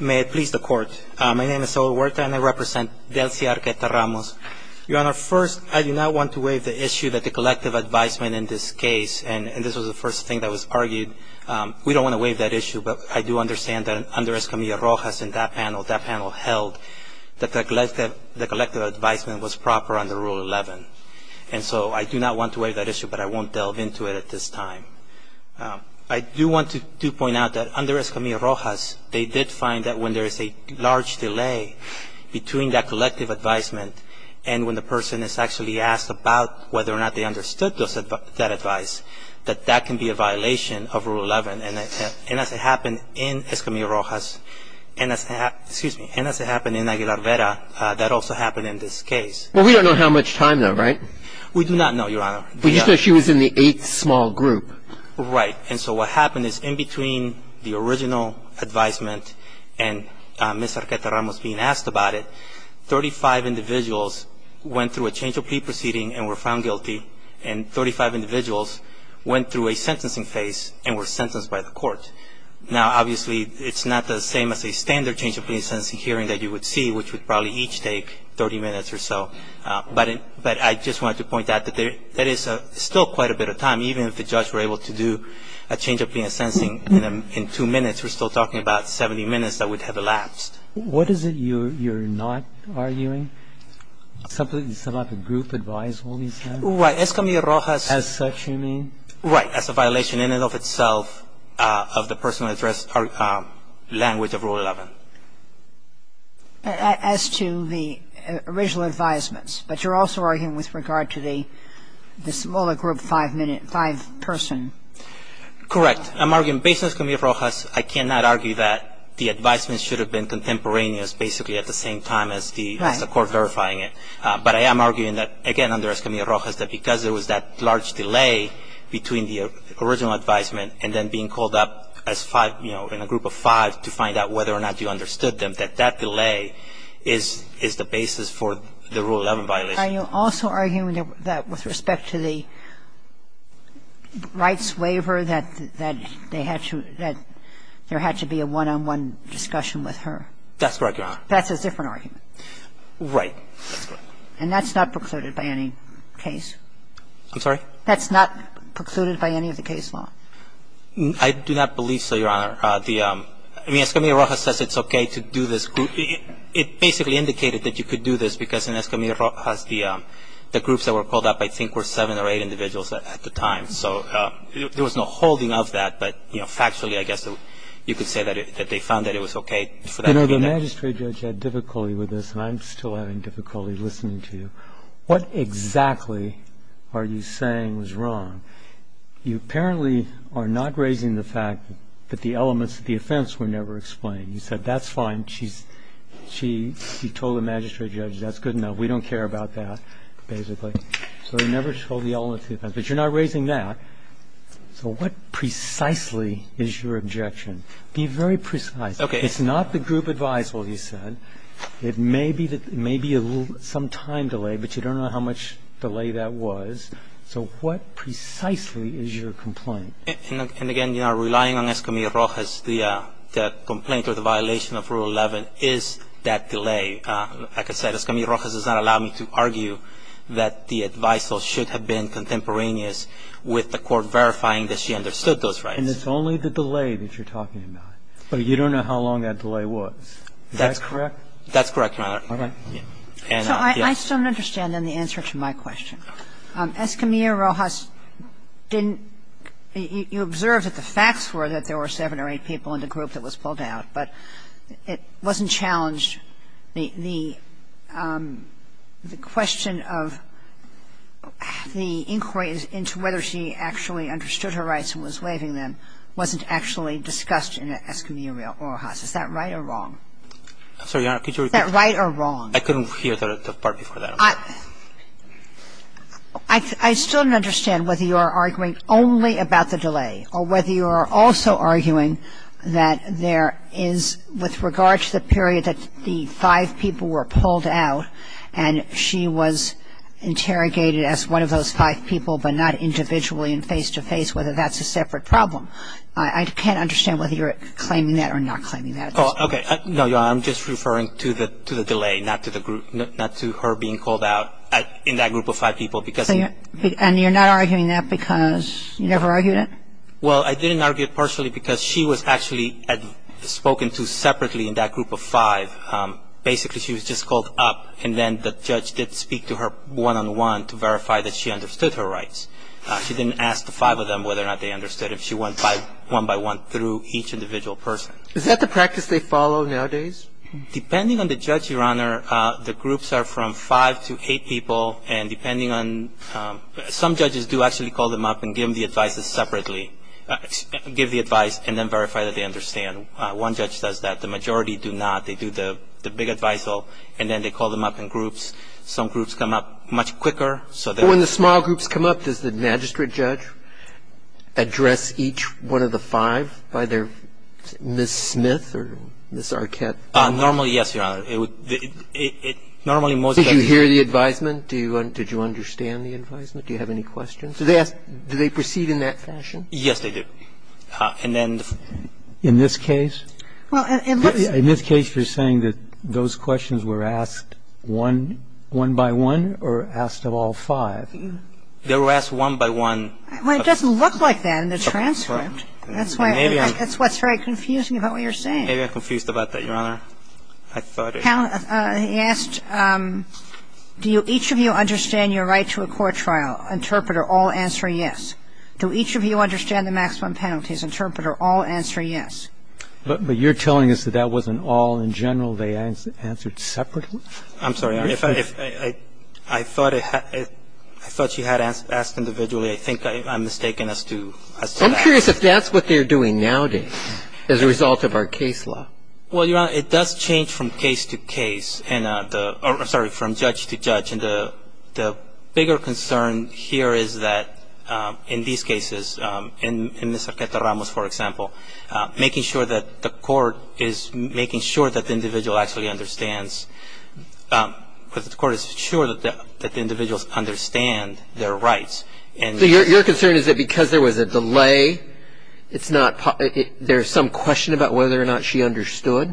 May it please the Court. My name is Saul Huerta and I represent Delcia Arqueta-Ramos. Your Honor, first, I do not want to waive the issue that the collective advisement in this case, and this was the first thing that was argued, we don't want to waive that issue, but I do understand that under Escamilla Rojas and that panel, that panel held that the collective advisement was proper under Rule 11. And so I do not want to waive that issue, but I won't want to point out that under Escamilla Rojas, they did find that when there is a large delay between that collective advisement and when the person is actually asked about whether or not they understood that advice, that that can be a violation of Rule 11. And as it happened in Escamilla Rojas, and as it happened, excuse me, and as it happened in Aguilar Vera, that also happened in this case. Well, we don't know how much time though, right? We do not know, Your Honor. But you said she was in the eighth small group. Right. And so what happened is in between the original advisement and Ms. Arqueta Ramos being asked about it, 35 individuals went through a change of plea proceeding and were found guilty, and 35 individuals went through a sentencing phase and were sentenced by the court. Now, obviously, it's not the same as a standard change of plea sentencing hearing that you would see, which would probably each take 30 minutes or so, but I just wanted to be able to do a change of plea and sentencing in two minutes. We're still talking about 70 minutes that would have elapsed. What is it you're not arguing? Something about the group advice all these times? Right. Escamilla Rojas As such, you mean? Right. As a violation in and of itself of the personal address language of Rule 11. As to the original advisements, but you're also arguing with regard to the smaller group five-person. Correct. I'm arguing, based on Escamilla Rojas, I cannot argue that the advisements should have been contemporaneous, basically at the same time as the court verifying it. But I am arguing that, again, under Escamilla Rojas, that because there was that large delay between the original advisement and then being called up as five, you know, in a group of five to find out whether or not you understood them, that that delay is the basis for the Rule 11 violation. And you're also arguing that with respect to the rights waiver, that they had to – that there had to be a one-on-one discussion with her. That's correct, Your Honor. That's a different argument. Right. And that's not precluded by any case? I'm sorry? That's not precluded by any of the case law? I do not believe so, Your Honor. The – I mean, Escamilla Rojas says it's okay to do this group. It basically indicated that you could do this because in Escamilla Rojas, the groups that were called up, I think, were seven or eight individuals at the time. So there was no holding of that, but, you know, factually, I guess, you could say that they found that it was okay for them to do that. You know, the magistrate judge had difficulty with this, and I'm still having difficulty listening to you. What exactly are you saying was wrong? You apparently are not raising the fact that the elements of the offense were never explained. You said that's fine. She's – she told the magistrate judge that's good enough. We don't care about that, basically. So they never told the elements of the offense. But you're not raising that. So what precisely is your objection? Be very precise. Okay. It's not the group advisable, you said. It may be a little – some time delay, but you don't know how much delay that was. So what precisely is your complaint? And again, you know, relying on Escamilla Rojas, the complaint or the violation of Rule 11 is that delay. Like I said, Escamilla Rojas does not allow me to argue that the advisal should have been contemporaneous with the court verifying that she understood those rights. And it's only the delay that you're talking about. But you don't know how long that delay was. Is that correct? That's correct, Your Honor. All right. So I still don't understand, then, the answer to my question. Escamilla Rojas didn't – you observed that the facts were that there were seven or eight people in the group that was pulled out. But it wasn't challenged. The question of the inquiries into whether she actually understood her rights and was waiving them wasn't actually discussed in Escamilla Rojas. Is that right or wrong? I'm sorry, Your Honor. Could you repeat? Is that right or wrong? I couldn't hear the part before that. I still don't understand whether you are arguing only about the delay or whether you are also arguing that there is, with regard to the period that the five people were pulled out and she was interrogated as one of those five people but not individually and face-to-face, whether that's a separate problem. I can't understand Okay. No, Your Honor. I'm just referring to the delay, not to her being called out in that group of five people because And you're not arguing that because you never argued it? Well, I didn't argue it partially because she was actually spoken to separately in that group of five. Basically, she was just called up and then the judge did speak to her one-on-one to verify that she understood her rights. She didn't ask the five of them whether or not they understood if she went one-by-one through each individual person. Is that the practice they follow nowadays? Depending on the judge, Your Honor, the groups are from five to eight people and depending on, some judges do actually call them up and give them the advices separately, give the advice and then verify that they understand. One judge does that. The majority do not. They do the big advisal and then they call them up in groups. Some groups come up much quicker so that When the small groups come up, does the magistrate judge address each one of the five by their, Ms. Smith or Ms. Arquette? Normally, yes, Your Honor. It would, it, it, normally most of the time Did you hear the advisement? Do you, did you understand the advisement? Do you have any questions? Do they ask, do they proceed in that fashion? Yes, they do. And then In this case? Well, it looks In this case, you're saying that those questions were asked one, one-by-one or asked of all five? They were asked one-by-one Well, it doesn't look like that in the transcript. That's why, that's what's very confusing about what you're saying. Maybe I'm confused about that, Your Honor. I thought it He asked, do each of you understand your right to a court trial? Interpreter, all answer yes. Do each of you understand the maximum penalties? Interpreter, all answer yes. But you're telling us that that wasn't all in general. They answered separately? I'm sorry, Your Honor. If I, if I, I thought it, I thought she had asked individually. I think I, I'm mistaken as to, as to that. I'm curious if that's what they're doing nowadays as a result of our case law. Well, Your Honor, it does change from case to case and the, or I'm sorry, from judge to judge. And the, the bigger concern here is that in these cases, in, in this Arqueta Ramos, for example, making sure that the court is making sure that the individual actually understands, that the court is sure that the, that the Your concern is that because there was a delay, it's not, there's some question about whether or not she understood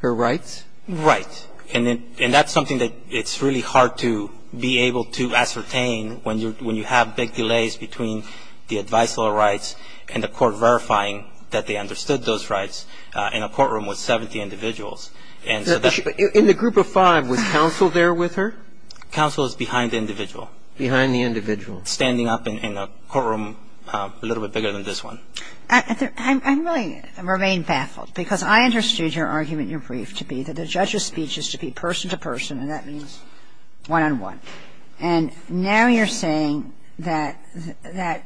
her rights? Right. And that's something that it's really hard to be able to ascertain when you're, when you have big delays between the advice law rights and the court verifying that they understood those rights in a courtroom with 70 individuals. And so that's But in the group of five, was counsel there with her? Counsel is behind the individual. Behind the individual. Standing up in, in a courtroom a little bit bigger than this one. I, I'm, I'm really, I remain baffled because I understood your argument in your brief to be that the judge's speech is to be person to person and that means one on one. And now you're saying that, that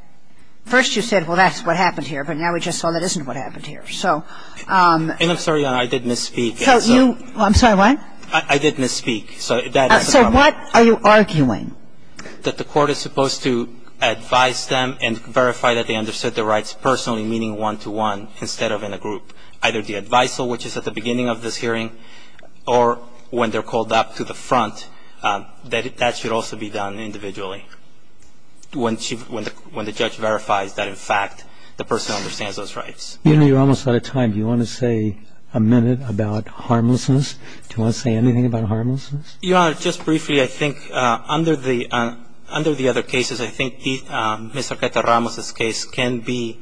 first you said, well, that's what happened here, but now we just saw that isn't what happened here. So And I'm sorry, Your Honor, I did misspeak. So you, I'm sorry, what? I, I did misspeak. So that is a problem. So what are you arguing? That the court is supposed to advise them and verify that they understood the rights personally, meaning one to one, instead of in a group. Either the advice law, which is at the beginning of this hearing, or when they're called up to the front, that, that should also be done individually. When she, when the, when the judge verifies that, in fact, the person understands those rights. You know, you're almost out of time. Do you want to say a minute about harmlessness? Do you want to say anything about harmlessness? Your Honor, just briefly, I think under the, under the other cases, I think the, Mr. Arreta-Ramos' case can be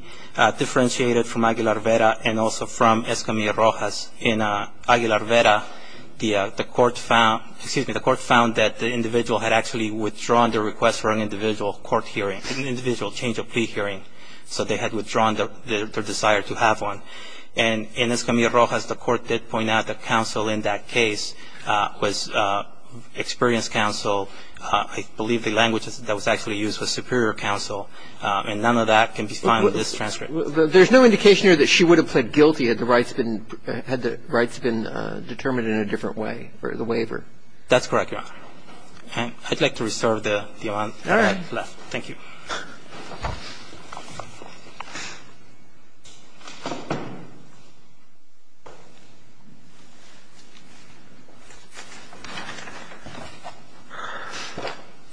differentiated from Aguilar-Vera and also from Escamilla-Rojas. In Aguilar-Vera, the, the court found, excuse me, the court found that the individual had actually withdrawn their request for an individual court hearing, an individual change of plea hearing. So they had withdrawn their, their, their desire to have one. And in Escamilla-Rojas, the experience counsel, I believe the language that was actually used was superior counsel. And none of that can be found in this transcript. Well, there's no indication here that she would have pled guilty had the rights been, had the rights been determined in a different way, or the waiver. That's correct, Your Honor. I'd like to reserve the, the amount of time I have left. Thank you.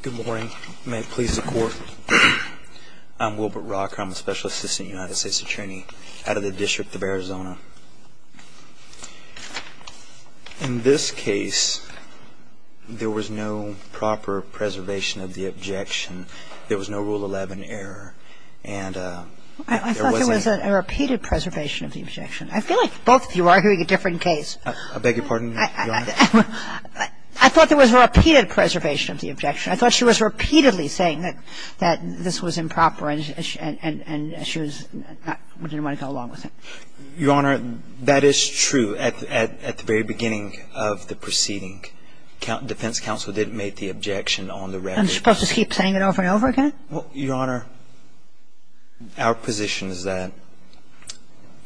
Good morning. May it please the Court. I'm Wilbert Rocker. I'm a special assistant United States attorney out of the District of Arizona. In this case, there was no proper preservation of the objection. There was no Rule 11 error. And there wasn't I thought there was a repeated preservation of the objection. I feel like both of you are hearing a different case. I beg your pardon, Your Honor? I thought there was a repeated preservation of the objection. I thought she was repeatedly saying that, that this was improper and she was not, didn't want to go along with it. Your Honor, that is true. At, at, at the very beginning of the proceeding, defense counsel did make the objection on the record. Am I supposed to keep saying it over and over again? Well, Your Honor, our position is that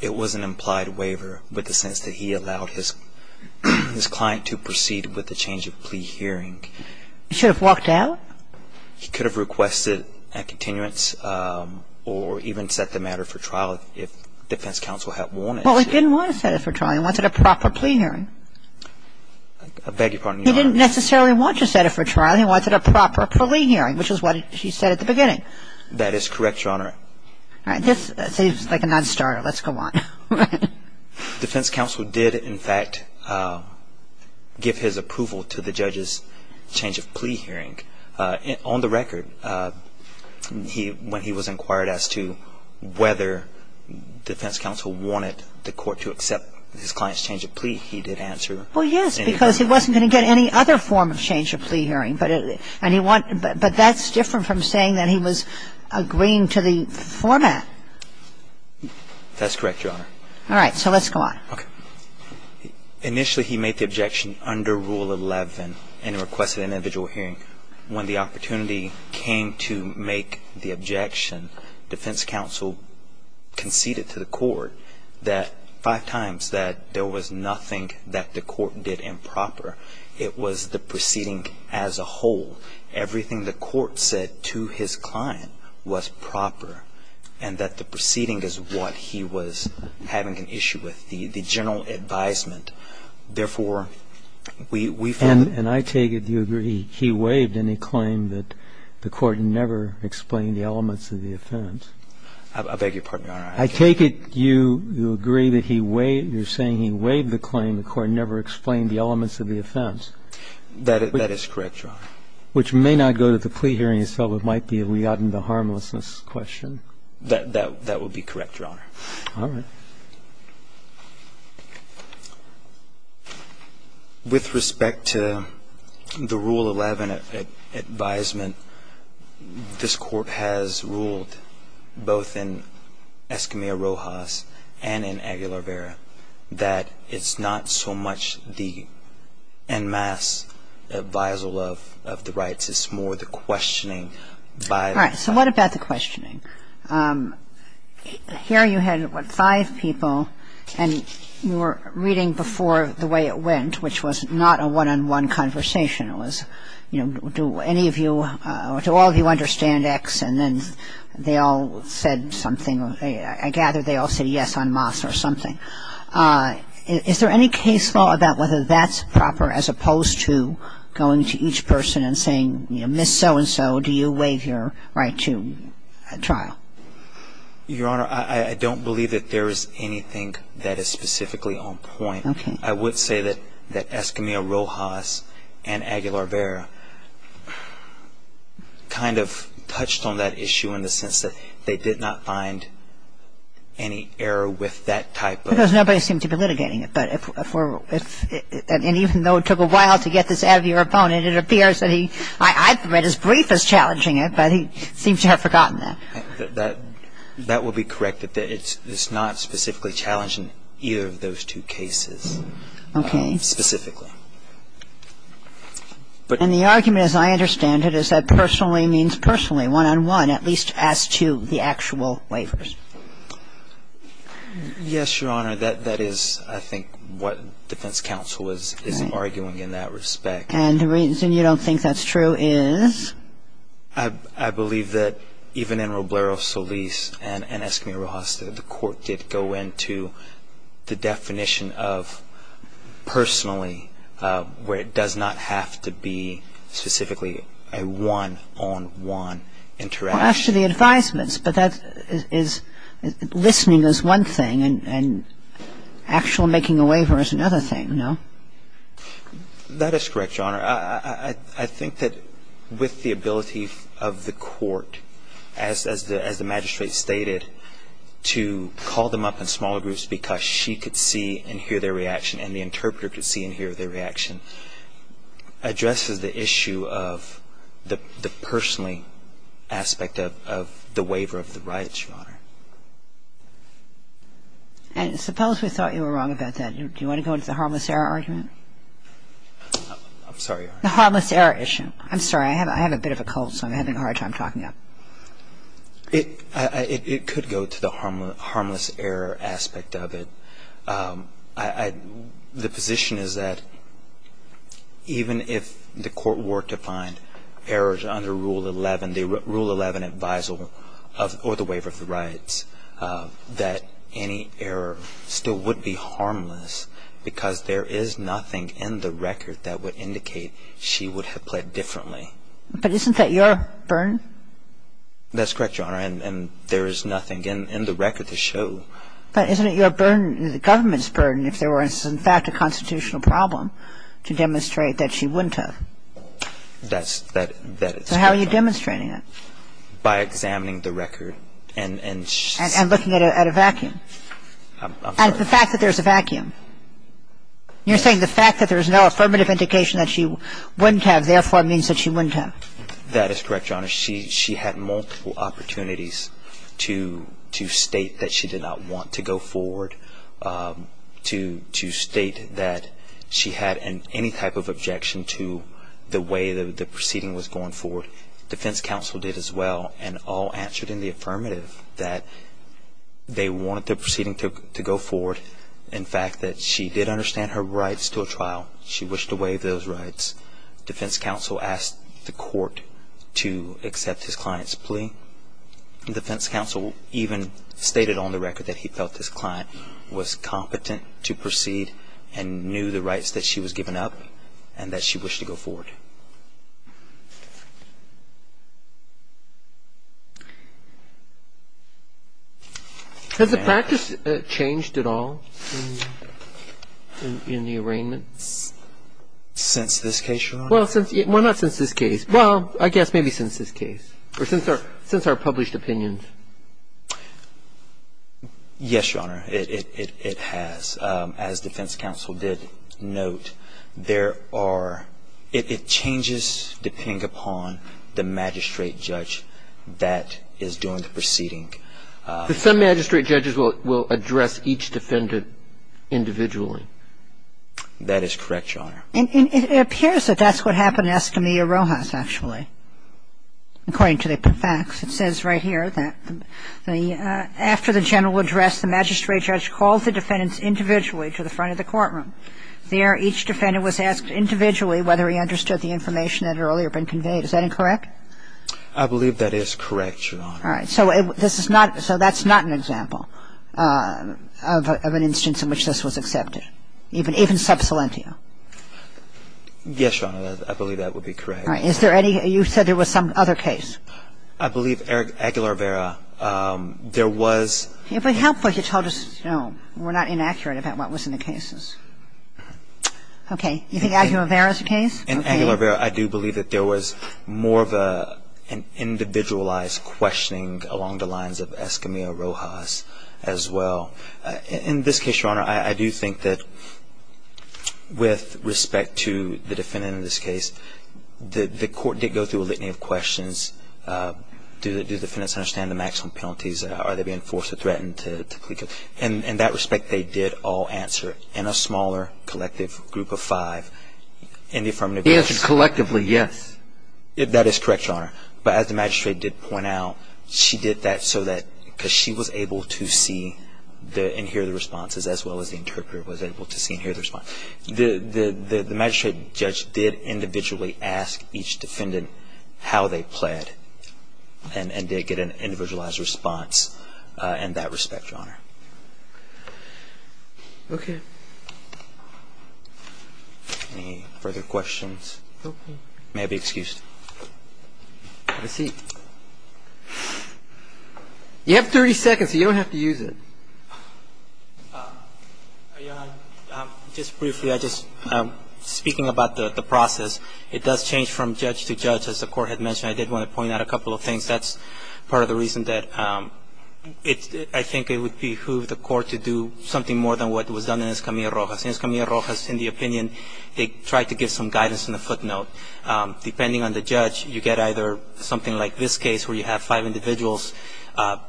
it was an implied waiver with the sense that he allowed his, his client to proceed with the change of plea hearing. He should have walked out? He could have requested a continuance or even set the matter for trial if defense counsel had wanted to. Well, he didn't want to set it for trial. He wanted a proper plea hearing. I beg your pardon, Your Honor? He didn't necessarily want to set it for trial. He wanted a proper plea hearing, which is what she said at the beginning. That is correct, Your Honor. All right. This seems like a non-starter. Let's go on. Defense counsel did, in fact, give his approval to the judge's change of plea hearing on the record. He, when he was inquired as to whether defense counsel wanted the court to accept his client's change of plea, he did answer. Well, yes, because he wasn't going to get any other form of change of plea hearing, but it, and he wanted, but that's different from saying that he was agreeing to the format. That's correct, Your Honor. All right. So let's go on. Okay. Initially, he made the objection under Rule 11 and requested an individual hearing. When the opportunity came to make the objection, defense counsel conceded to the court that, five times, that there was nothing that the court did improper. It was the proceeding as a whole. Everything the court said to his client was proper and that the proceeding is what he was having an issue with, the general advisement. Therefore, we found the ---- And I take it you agree he waived any claim that the court never explained the elements of the offense. I beg your pardon, Your Honor. I take it you agree that he waived, you're saying he waived the claim the court never That is correct, Your Honor. Which may not go to the plea hearing itself. It might be a Liatin v. Harmlessness question. That would be correct, Your Honor. All right. With respect to the Rule 11 advisement, this Court has ruled both in Escamilla-Rojas and in Aguilar-Vera that it's not so much the en masse advisal of the rights. It's more the questioning by the All right. So what about the questioning? Here you had, what, five people and you were reading before the way it went, which was not a one-on-one conversation. It was, you know, do any of you or do all of you understand X? And then they all said something. I gather they all said yes en masse or something. Is there any case law about whether that's proper as opposed to going to each person and saying, you know, Ms. So-and-so, do you waive your right to trial? Your Honor, I don't believe that there is anything that is specifically on point. Okay. I would say that Escamilla-Rojas and Aguilar-Vera kind of touched on that issue in the sense that they did not find any error with that typo. Because nobody seemed to be litigating it. And even though it took a while to get this out of your opponent, it appears that he, I read as brief as challenging it, but he seems to have forgotten that. That will be corrected. It's not specifically challenging either of those two cases. Okay. Specifically. And the argument, as I understand it, is that personally means personally, one-on-one, at least as to the actual waivers. Yes, Your Honor. That is, I think, what defense counsel is arguing in that respect. And the reason you don't think that's true is? I believe that even in Roblero-Solis and Escamilla-Rojas, the court did go into the definition of personally, where it does not have to be specifically a one-on-one interaction. Well, as to the advisements. But that is, listening is one thing and actual making a waiver is another thing, no? That is correct, Your Honor. I think that with the ability of the court, as the magistrate stated, to call them up in smaller groups because she could see and hear their reaction and the interpreter could see and hear their reaction, addresses the issue of the personally aspect of the waiver of the rights, Your Honor. And suppose we thought you were wrong about that. Do you want to go into the harmless error argument? I'm sorry, Your Honor. The harmless error issue. I'm sorry. I have a bit of a cold, so I'm having a hard time talking up. It could go to the harmless error aspect of it. The position is that even if the court were to find errors under Rule 11, the Rule 11 advisal or the waiver of the rights, that any error still would be harmless because there is nothing in the record that would indicate she would have pled differently. But isn't that your burden? That's correct, Your Honor. And there is nothing in the record to show. But isn't it your burden, the government's burden, if there was in fact a constitutional problem to demonstrate that she wouldn't have? That's correct. So how are you demonstrating it? By examining the record. And looking at a vacuum. I'm sorry. And the fact that there's a vacuum. You're saying the fact that there's no affirmative indication that she wouldn't have therefore means that she wouldn't have. That is correct, Your Honor. She had multiple opportunities to state that she did not want to go forward, to state that she had any type of objection to the way the proceeding was going forward. Defense counsel did as well and all answered in the affirmative that they wanted the proceeding to go forward. In fact, that she did understand her rights to a trial. She wished to waive those rights. Defense counsel asked the court to accept his client's plea. And defense counsel even stated on the record that he felt this client was competent to proceed and knew the rights that she was given up and that she wished to go forward. Has the practice changed at all in the arraignments? Since this case, Your Honor? Well, not since this case. Well, I guess maybe since this case or since our published opinions. Yes, Your Honor. It has. As defense counsel did note, there are ‑‑ it changes depending upon the magistrate judge that is doing the proceeding. But some magistrate judges will address each defendant individually. That is correct, Your Honor. And it appears that that's what happened in Escamilla Rojas, actually, according to the facts. It says right here that after the general address, the magistrate judge called the defendants individually to the front of the courtroom. There, each defendant was asked individually whether he understood the information that had earlier been conveyed. Is that incorrect? I believe that is correct, Your Honor. All right. So this is not ‑‑ so that's not an example of an instance in which this was accepted, even sub salentio? Yes, Your Honor. I believe that would be correct. All right. Is there any ‑‑ you said there was some other case. I believe Aguilar-Vera. There was ‑‑ Yeah, but how could you tell just, you know, we're not inaccurate about what was in the cases. Okay. You think Aguilar-Vera is the case? In Aguilar-Vera, I do believe that there was more of an individualized questioning along the lines of Escamilla Rojas as well. In this case, Your Honor, I do think that with respect to the defendant in this case, the court did go through a litany of questions. Do the defendants understand the maximum penalties? Are they being forced or threatened to plead guilty? In that respect, they did all answer in a smaller collective group of five. He answered collectively, yes. That is correct, Your Honor. But as the magistrate did point out, she did that so that ‑‑ because she was able to see and hear the responses as well as the interpreter was able to see and hear the response. The magistrate judge did individually ask each defendant how they pled and did get an individualized response in that respect, Your Honor. Okay. Any further questions? Okay. May I be excused? Have a seat. You have 30 seconds, so you don't have to use it. Your Honor, just briefly, just speaking about the process, it does change from judge to judge as the court had mentioned. I did want to point out a couple of things. That's part of the reason that I think it would behoove the court to do something more than what was done in Escamilla Rojas. In Escamilla Rojas, in the opinion, they tried to give some guidance and a footnote. Depending on the judge, you get either something like this case where you have five individuals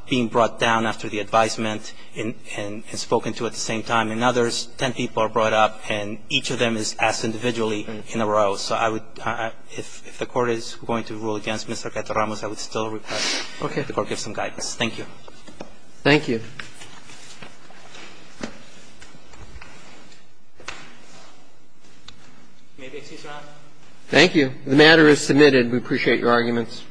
being brought down after the advisement and spoken to at the same time, and others, 10 people are brought up and each of them is asked individually in a row. So I would ‑‑ if the court is going to rule against Mr. Gateramos, I would still request the court give some guidance. Thank you. May I be excused, Your Honor? Thank you. The matter is submitted. We appreciate your arguments.